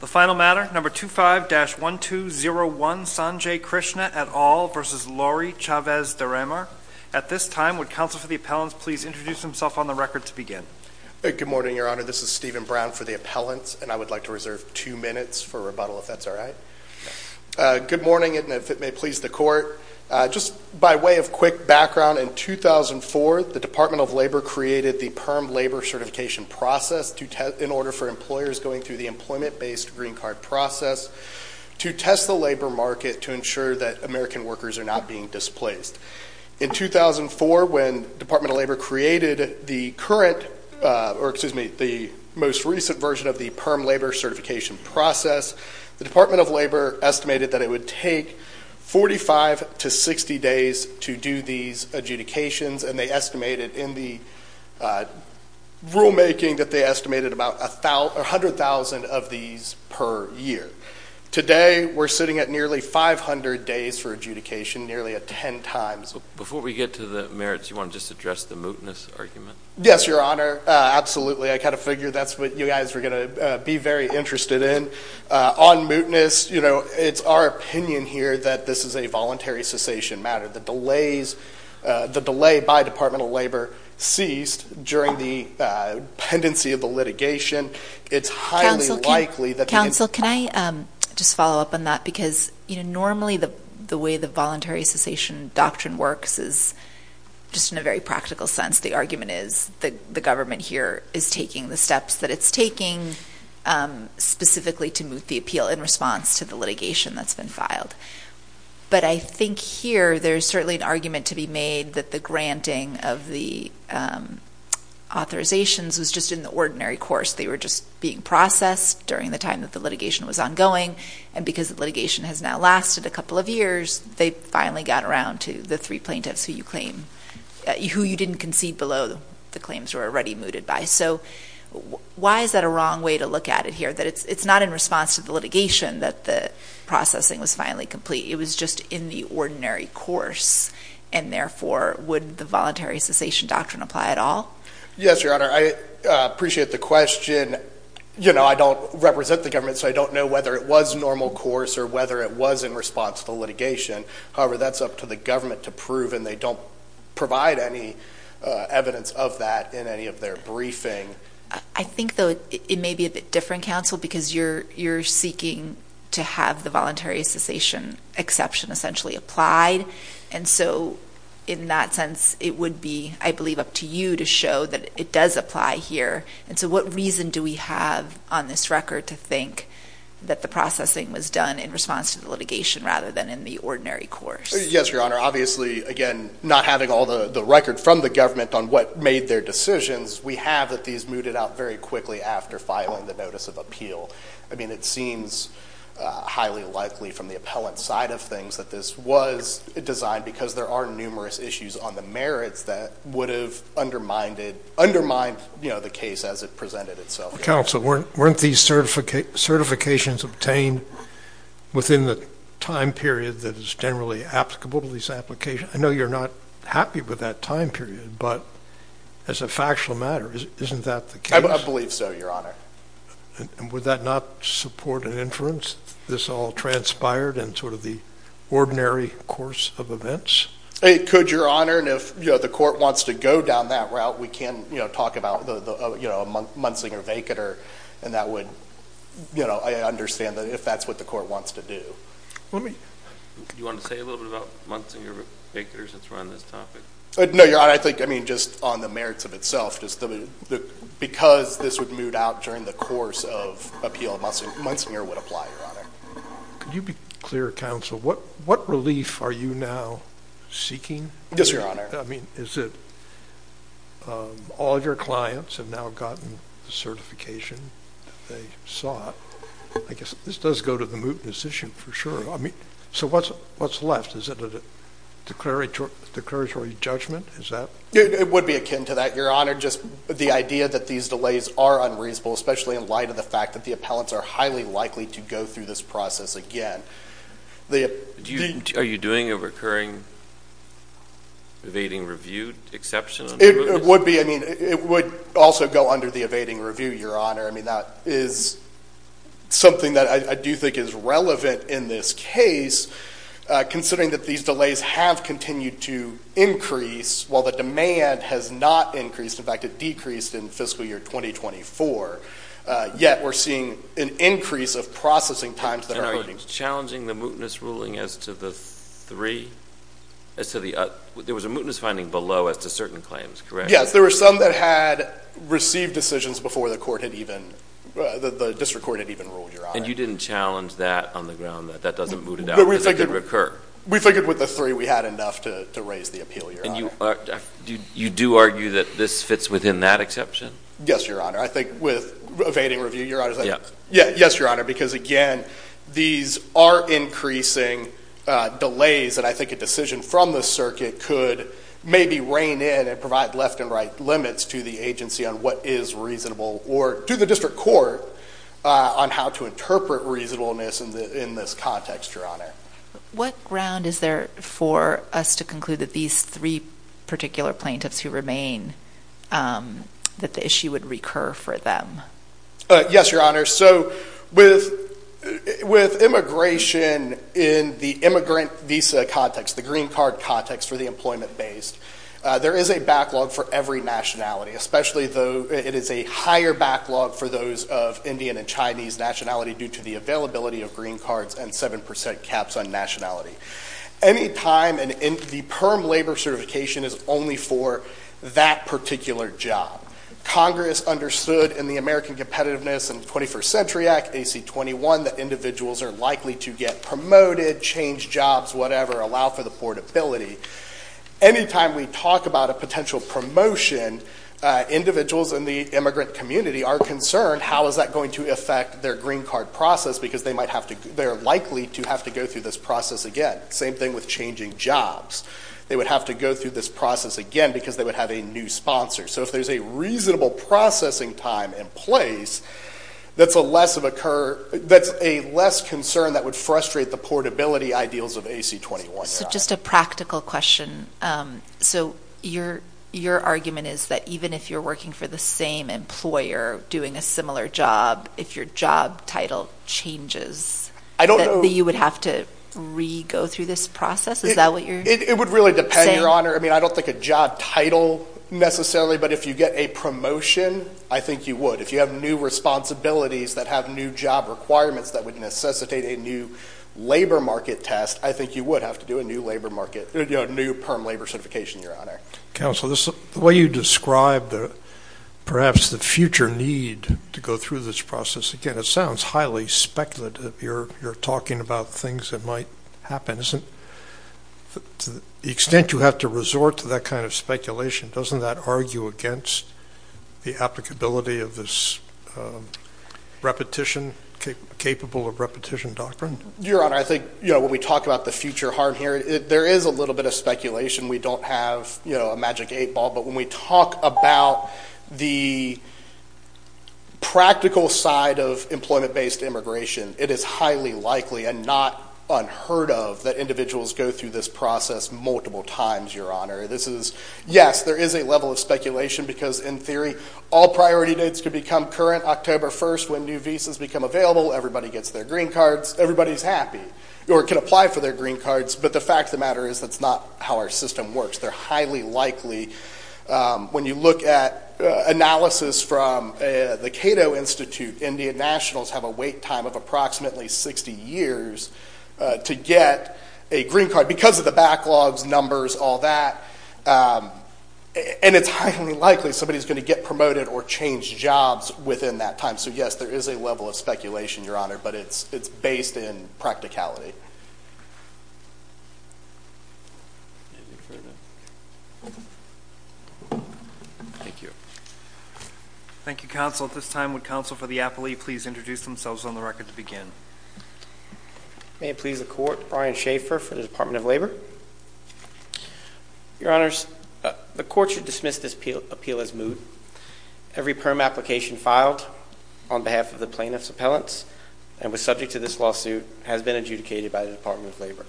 The final matter, No. 25-1201 Sanjay Krishna et al. v. Lori Chavez-DeRemer. At this time, would counsel for the appellants please introduce themselves on the record to begin? Good morning, Your Honor. This is Stephen Brown for the appellants, and I would like to reserve two minutes for rebuttal, if that's all right. Good morning, and if it may please the Court, just by way of quick background, in 2004 the Department of Labor created the PERM Labor Certification Process in order for employers going through the employment-based green card process to test the labor market to ensure that American workers are not being displaced. In 2004, when the Department of Labor created the most recent version of the PERM Labor Certification Process, the Department of Labor estimated that it would take 45 to 60 days to do these adjudications, and they estimated in the rulemaking that they estimated about 100,000 of these per year. Today, we're sitting at nearly 500 days for adjudication, nearly a ten times. Before we get to the merits, do you want to just address the mootness argument? Yes, Your Honor, absolutely. I kind of figured that's what you guys were going to be very interested in. On mootness, you know, it's our opinion here that this is a voluntary cessation matter. The delay by Department of Labor ceased during the pendency of the litigation. It's highly likely that the— Counsel, can I just follow up on that? Because, you know, normally the way the voluntary cessation doctrine works is just in a very practical sense. The argument is that the government here is taking the steps that it's taking specifically to moot the appeal in response to the litigation that's been filed. But I think here there's certainly an argument to be made that the granting of the authorizations was just in the ordinary course. They were just being processed during the time that the litigation was ongoing, and because the litigation has now lasted a couple of years, they finally got around to the three plaintiffs who you claim—who you didn't concede below the claims were already mooted by. So why is that a wrong way to look at it here? That it's not in response to the litigation that the processing was finally complete. It was just in the ordinary course, and therefore would the voluntary cessation doctrine apply at all? Yes, Your Honor. I appreciate the question. You know, I don't represent the government, so I don't know whether it was normal course or whether it was in response to litigation. However, that's up to the government to prove, and they don't provide any evidence of that in any of their briefing. I think, though, it may be a bit different, Counsel, because you're seeking to have the voluntary cessation exception essentially applied. And so in that sense, it would be, I believe, up to you to show that it does apply here. And so what reason do we have on this record to think that the processing was done in response to the litigation rather than in the ordinary course? Yes, Your Honor. Obviously, again, not having all the record from the government on what made their decisions, we have that these mooted out very quickly after filing the notice of appeal. I mean, it seems highly likely from the appellant's side of things that this was designed because there are numerous issues on the merits that would have undermined the case as it presented itself. Counsel, weren't these certifications obtained within the time period that is generally applicable to these applications? I know you're not happy with that time period, but as a factual matter, isn't that the case? I believe so, Your Honor. Would that not support an inference that this all transpired in sort of the ordinary course of events? It could, Your Honor, and if the court wants to go down that route, we can talk about a muntzinger vacater, and I understand that if that's what the court wants to do. Do you want to say a little bit about muntzinger vacater since we're on this topic? No, Your Honor, I think just on the merits of itself, just because this would moot out during the course of appeal, muntzinger would apply, Your Honor. Could you be clear, Counsel, what relief are you now seeking? Yes, Your Honor. I mean, is it all your clients have now gotten the certification that they sought? I guess this does go to the moot decision for sure. So what's left? Is it a declaratory judgment? It would be akin to that, Your Honor, just the idea that these delays are unreasonable, especially in light of the fact that the appellants are highly likely to go through this process again. Are you doing a recurring evading review exception? It would be. I mean, it would also go under the evading review, Your Honor. I mean, that is something that I do think is relevant in this case, considering that these delays have continued to increase while the demand has not increased. In fact, it decreased in fiscal year 2024, yet we're seeing an increase of processing times. And are you challenging the mootness ruling as to the three? There was a mootness finding below as to certain claims, correct? Yes, there were some that had received decisions before the district court had even ruled, Your Honor. And you didn't challenge that on the ground, that that doesn't moot it out, that it could recur? We figured with the three we had enough to raise the appeal, Your Honor. And you do argue that this fits within that exception? Yes, Your Honor. I think with evading review, Your Honor, yes, Your Honor, because, again, these are increasing delays, and I think a decision from the circuit could maybe rein in and provide left and right limits to the agency on what is reasonable or to the district court on how to interpret reasonableness in this context, Your Honor. What ground is there for us to conclude that these three particular plaintiffs who remain, that the issue would recur for them? Yes, Your Honor. So with immigration in the immigrant visa context, the green card context for the employment-based, there is a backlog for every nationality, especially though it is a higher backlog for those of Indian and Chinese nationality due to the availability of green cards and 7% caps on nationality. Any time the PERM labor certification is only for that particular job, Congress understood in the American Competitiveness and 21st Century Act, AC-21, that individuals are likely to get promoted, change jobs, whatever, allow for the portability. Any time we talk about a potential promotion, individuals in the immigrant community are concerned, how is that going to affect their green card process because they are likely to have to go through this process again. Same thing with changing jobs. They would have to go through this process again because they would have a new sponsor. So if there's a reasonable processing time and place, that's a less concern that would frustrate the portability ideals of AC-21. So just a practical question. So your argument is that even if you're working for the same employer doing a similar job, if your job title changes, that you would have to re-go through this process? Is that what you're saying? It would really depend, Your Honor. I don't think a job title necessarily, but if you get a promotion, I think you would. If you have new responsibilities that have new job requirements that would necessitate a new labor market test, I think you would have to do a new perm labor certification, Your Honor. Counsel, the way you describe perhaps the future need to go through this process, again, it sounds highly speculative. You're talking about things that might happen. To the extent you have to resort to that kind of speculation, doesn't that argue against the applicability of this capable of repetition doctrine? Your Honor, I think when we talk about the future harm here, there is a little bit of speculation. We don't have a magic eight ball, but when we talk about the practical side of employment-based immigration, it is highly likely and not unheard of that individuals go through this process multiple times, Your Honor. Yes, there is a level of speculation because, in theory, all priority dates could become current. October 1st, when new visas become available, everybody gets their green cards. Everybody's happy or can apply for their green cards, but the fact of the matter is that's not how our system works. They're highly likely. When you look at analysis from the Cato Institute, Indian nationals have a wait time of approximately 60 years to get a green card because of the backlogs, numbers, all that, and it's highly likely somebody's going to get promoted or change jobs within that time. So, yes, there is a level of speculation, Your Honor, but it's based in practicality. Thank you. Thank you, Counsel. At this time, would Counsel for the appellee please introduce themselves on the record to begin? May it please the Court, Brian Schaefer for the Department of Labor. Your Honors, the Court should dismiss this appeal as moot. Every perm application filed on behalf of the plaintiff's appellants and was subject to this lawsuit has been adjudicated by the Department of Labor.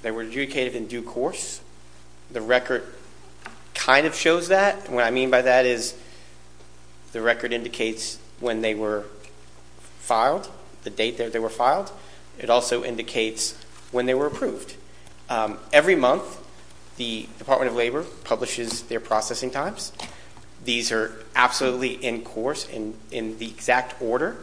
They were adjudicated in due course. The record kind of shows that. What I mean by that is the record indicates when they were filed, the date that they were filed. It also indicates when they were approved. Every month the Department of Labor publishes their processing times. These are absolutely in course and in the exact order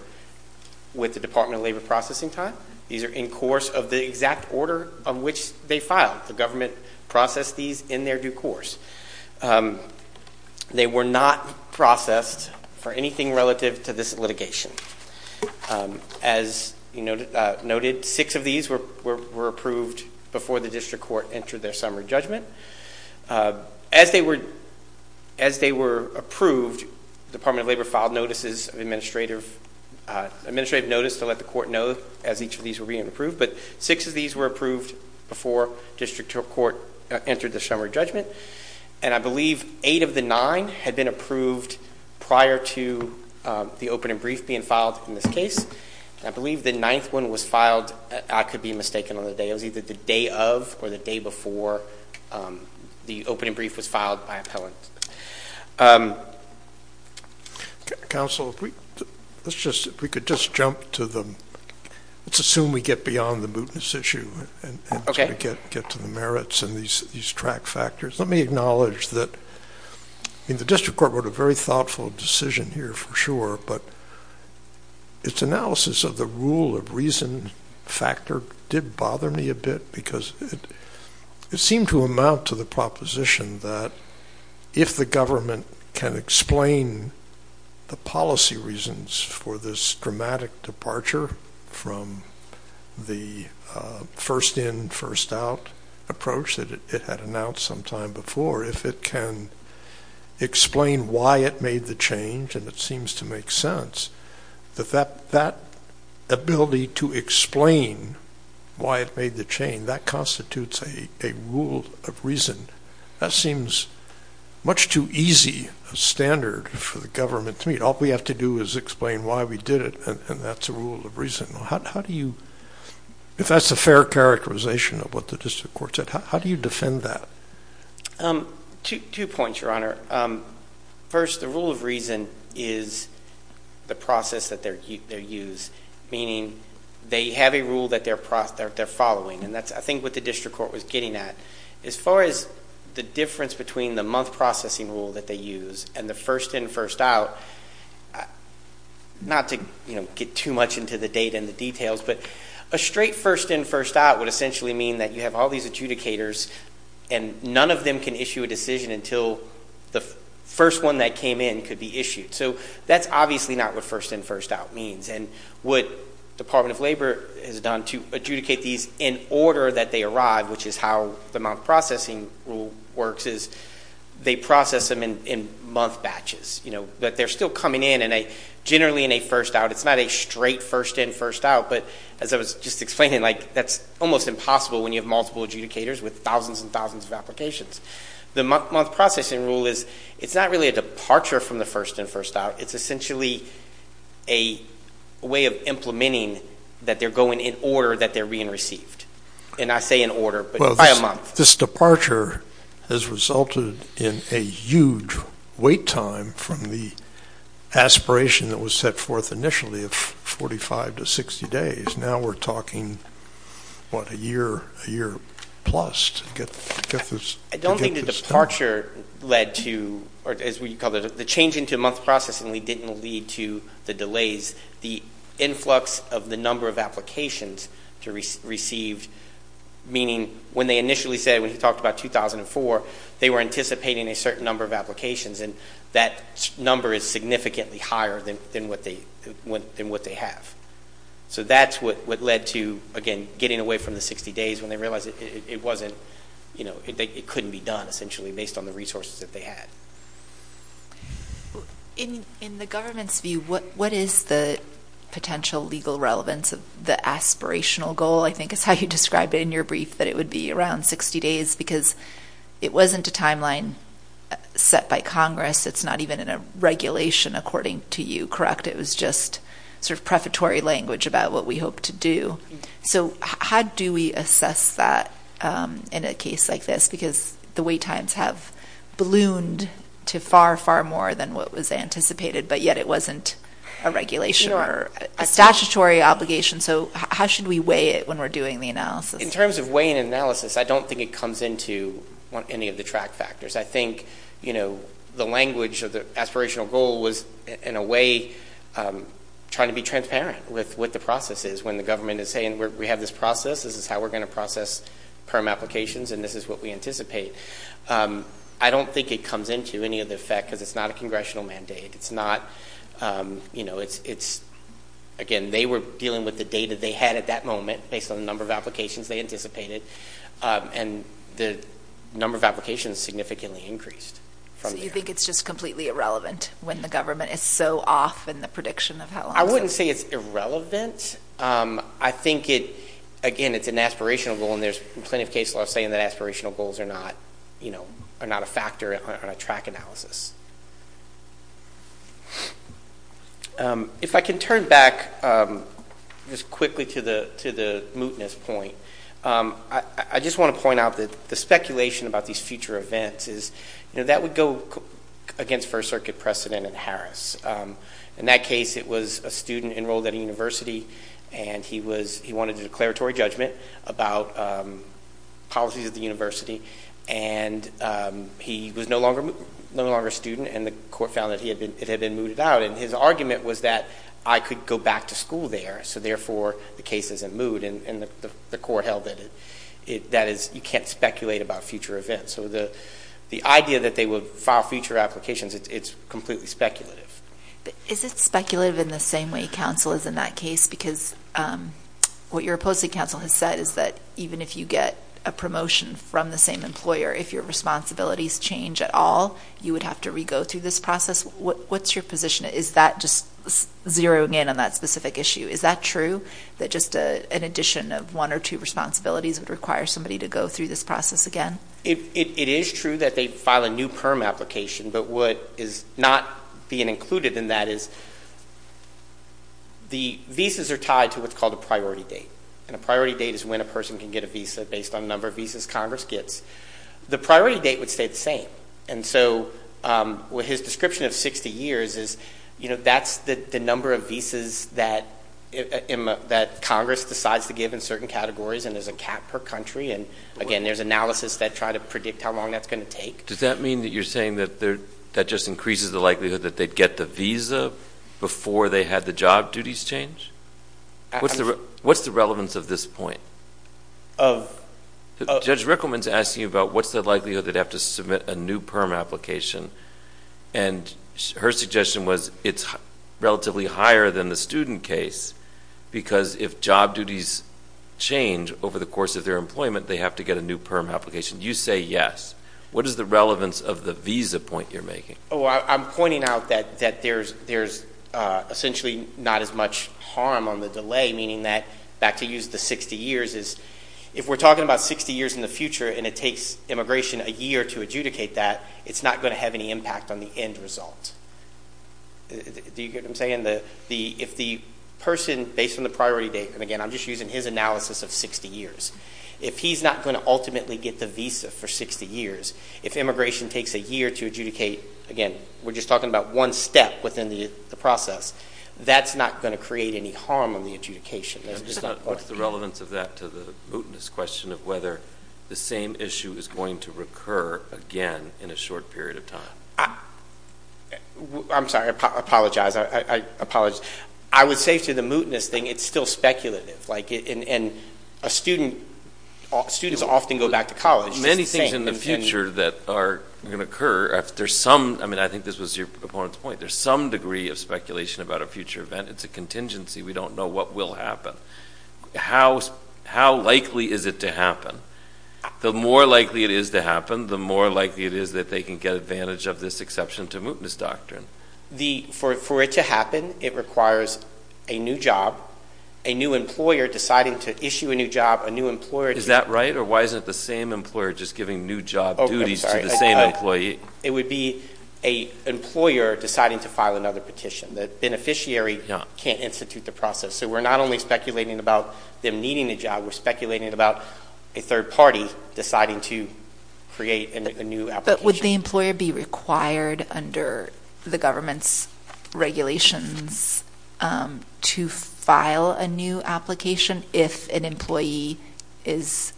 with the Department of Labor processing time. These are in course of the exact order on which they filed. The government processed these in their due course. They were not processed for anything relative to this litigation. As noted, six of these were approved before the district court entered their summary judgment. As they were approved, the Department of Labor filed notices of administrative notice to let the court know as each of these were being approved, but six of these were approved before district court entered the summary judgment. I believe eight of the nine had been approved prior to the open and brief being filed in this case. I believe the ninth one was filed, I could be mistaken on the day, it was either the day of or the day before the open and brief was filed by appellant. Counsel, if we could just jump to the, let's assume we get beyond the mootness issue. Okay. Get to the merits and these track factors. Let me acknowledge that the district court wrote a very thoughtful decision here for sure, but its analysis of the rule of reason factor did bother me a bit because it seemed to amount to the proposition that if the government can explain the policy reasons for this dramatic departure from the first in, first out approach that it had announced sometime before, if it can explain why it made the change, and it seems to make sense, that that ability to explain why it made the change, that constitutes a rule of reason. That seems much too easy a standard for the government to meet. All we have to do is explain why we did it, and that's a rule of reason. How do you, if that's a fair characterization of what the district court said, how do you defend that? Two points, Your Honor. First, the rule of reason is the process that they use, meaning they have a rule that they're following, and that's, I think, what the district court was getting at. As far as the difference between the month processing rule that they use and the first in, first out, not to get too much into the data and the details, but a straight first in, first out would essentially mean that you have all these adjudicators and none of them can issue a decision until the first one that came in could be issued. So that's obviously not what first in, first out means, and what the Department of Labor has done to adjudicate these in order that they arrive, which is how the month processing rule works, is they process them in month batches, but they're still coming in, and generally in a first out. It's not a straight first in, first out, but as I was just explaining, like that's almost impossible when you have multiple adjudicators with thousands and thousands of applications. The month processing rule is it's not really a departure from the first in, first out. It's essentially a way of implementing that they're going in order that they're being received. And I say in order, but by a month. This departure has resulted in a huge wait time from the aspiration that was set forth initially of 45 to 60 days. Now we're talking, what, a year, a year plus to get this done. I don't think the departure led to, or as we call it, the change into month processing didn't lead to the delays. The influx of the number of applications to receive, meaning when they initially said, when you talked about 2004, they were anticipating a certain number of applications, and that number is significantly higher than what they have. So that's what led to, again, getting away from the 60 days when they realized it wasn't, it couldn't be done essentially based on the resources that they had. In the government's view, what is the potential legal relevance of the aspirational goal, I think is how you described it in your brief, that it would be around 60 days, because it wasn't a timeline set by Congress. It's not even in a regulation according to you, correct? It was just sort of prefatory language about what we hope to do. So how do we assess that in a case like this, because the wait times have ballooned to far, far more than what was anticipated, but yet it wasn't a regulation or a statutory obligation. So how should we weigh it when we're doing the analysis? In terms of weighing and analysis, I don't think it comes into any of the track factors. I think the language of the aspirational goal was, in a way, trying to be transparent with what the process is when the government is saying, we have this process, this is how we're going to process perm applications, and this is what we anticipate. I don't think it comes into any of the effect because it's not a congressional mandate. It's not, you know, it's, again, they were dealing with the data they had at that moment based on the number of applications they anticipated, and the number of applications significantly increased. So you think it's just completely irrelevant when the government is so off in the prediction of how long. I wouldn't say it's irrelevant. I think it, again, it's an aspirational goal, and there's plenty of cases where I'm saying that aspirational goals are not a factor on a track analysis. If I can turn back just quickly to the mootness point, I just want to point out that the speculation about these future events is, you know, that would go against First Circuit precedent in Harris. In that case, it was a student enrolled at a university, and he wanted a declaratory judgment about policies at the university, and he was no longer a student, and the court found that it had been mooted out, and his argument was that I could go back to school there, so therefore the case isn't moot, and the court held that you can't speculate about future events. So the idea that they would file future applications, it's completely speculative. Is it speculative in the same way counsel is in that case? Because what your opposing counsel has said is that even if you get a promotion from the same employer, if your responsibilities change at all, you would have to re-go through this process. What's your position? Is that just zeroing in on that specific issue? Is that true, that just an addition of one or two responsibilities would require somebody to go through this process again? It is true that they file a new PERM application, but what is not being included in that is the visas are tied to what's called a priority date, and a priority date is when a person can get a visa based on the number of visas Congress gets. The priority date would stay the same, and so his description of 60 years is, you know, that's the number of visas that Congress decides to give in certain categories, and there's a cap per country, and, again, there's analysis that try to predict how long that's going to take. Does that mean that you're saying that that just increases the likelihood that they'd get the visa before they had the job duties change? What's the relevance of this point? Judge Rickleman is asking you about what's the likelihood they'd have to submit a new PERM application, and her suggestion was it's relatively higher than the student case, because if job duties change over the course of their employment, they have to get a new PERM application. You say yes. What is the relevance of the visa point you're making? Oh, I'm pointing out that there's essentially not as much harm on the delay, meaning that, back to use the 60 years, is if we're talking about 60 years in the future and it takes immigration a year to adjudicate that, it's not going to have any impact on the end result. Do you get what I'm saying? If the person, based on the priority date, and, again, I'm just using his analysis of 60 years, if he's not going to ultimately get the visa for 60 years, if immigration takes a year to adjudicate, again, we're just talking about one step within the process, that's not going to create any harm on the adjudication. What's the relevance of that to the mootness question of whether the same issue is going to recur again in a short period of time? I'm sorry, I apologize. I would say to the mootness thing, it's still speculative. And students often go back to college. Many things in the future that are going to occur, I think this was your opponent's point, there's some degree of speculation about a future event. It's a contingency. We don't know what will happen. How likely is it to happen? The more likely it is to happen, the more likely it is that they can get advantage of this exception to mootness doctrine. For it to happen, it requires a new job, a new employer deciding to issue a new job, a new employer. Is that right? Or why isn't the same employer just giving new job duties to the same employee? It would be an employer deciding to file another petition. The beneficiary can't institute the process. So we're not only speculating about them needing a job, we're speculating about a third party deciding to create a new application. But would the employer be required under the government's regulations to file a new application if an employee is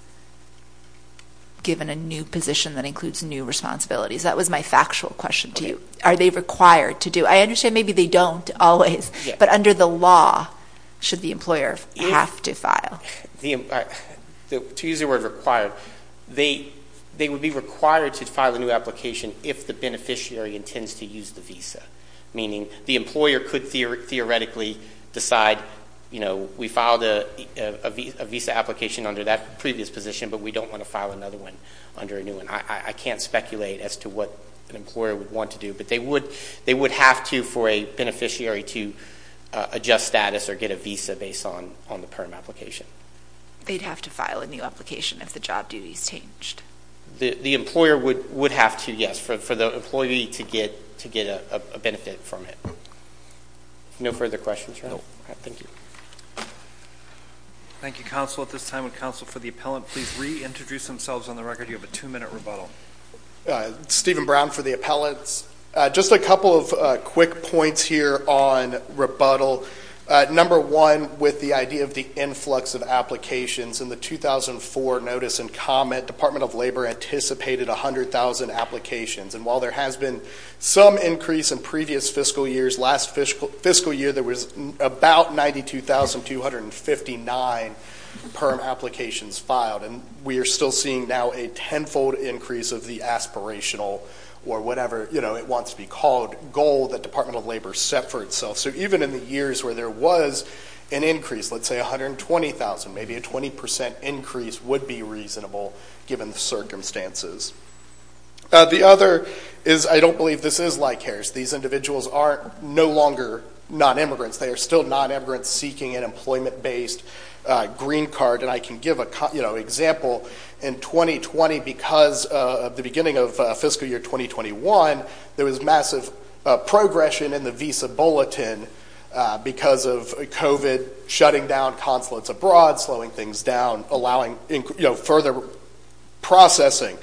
given a new position that includes new responsibilities? That was my factual question to you. Are they required to do it? I understand maybe they don't always, but under the law, should the employer have to file? To use the word required, they would be required to file a new application if the beneficiary intends to use the visa, meaning the employer could theoretically decide, you know, we filed a visa application under that previous position, but we don't want to file another one under a new one. I can't speculate as to what an employer would want to do, but they would have to for a beneficiary to adjust status or get a visa based on the perm application. They'd have to file a new application if the job duty is changed. The employer would have to, yes, for the employee to get a benefit from it. No further questions? No. Thank you. Thank you, counsel. At this time, would counsel for the appellant please reintroduce themselves on the record? You have a two-minute rebuttal. Steven Brown for the appellants. Just a couple of quick points here on rebuttal. Number one, with the idea of the influx of applications, in the 2004 notice and comment, Department of Labor anticipated 100,000 applications, and while there has been some increase in previous fiscal years, last fiscal year there was about 92,259 perm applications filed, and we are still seeing now a tenfold increase of the aspirational or whatever, you know, it wants to be called goal that Department of Labor set for itself. So even in the years where there was an increase, let's say 120,000, maybe a 20% increase would be reasonable given the circumstances. The other is I don't believe this is like Harris. These individuals are no longer non-immigrants. They are still non-immigrants seeking an employment-based green card, and I can give an example. In 2020, because of the beginning of fiscal year 2021, there was massive progression in the visa bulletin because of COVID shutting down consulates abroad, slowing things down, allowing, you know, further processing.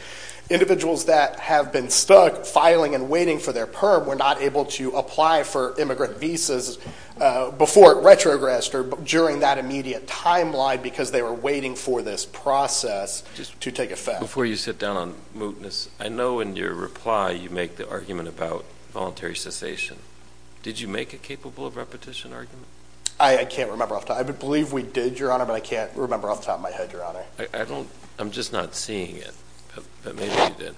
Individuals that have been stuck filing and waiting for their perm were not able to apply for immigrant visas before it retrogressed or during that immediate timeline because they were waiting for this process to take effect. Before you sit down on mootness, I know in your reply you make the argument about voluntary cessation. Did you make a capable of repetition argument? I can't remember off the top. I believe we did, Your Honor, but I can't remember off the top of my head, Your Honor. I'm just not seeing it, but maybe you did.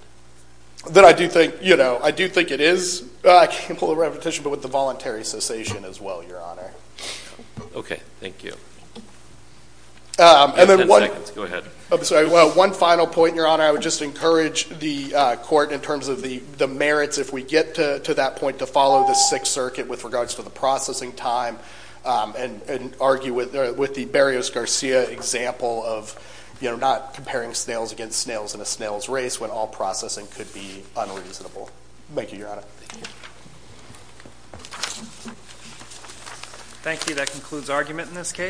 Then I do think, you know, I do think it is capable of repetition, but with the voluntary cessation as well, Your Honor. Okay, thank you. Ten seconds, go ahead. I'm sorry. Well, one final point, Your Honor. I would just encourage the court in terms of the merits, if we get to that point, to follow the Sixth Circuit with regards to the processing time and argue with the Berrios-Garcia example of, you know, not comparing snails against snails in a snail's race when all processing could be unreasonable. Thank you, Your Honor. Thank you. Thank you. That concludes argument in this case.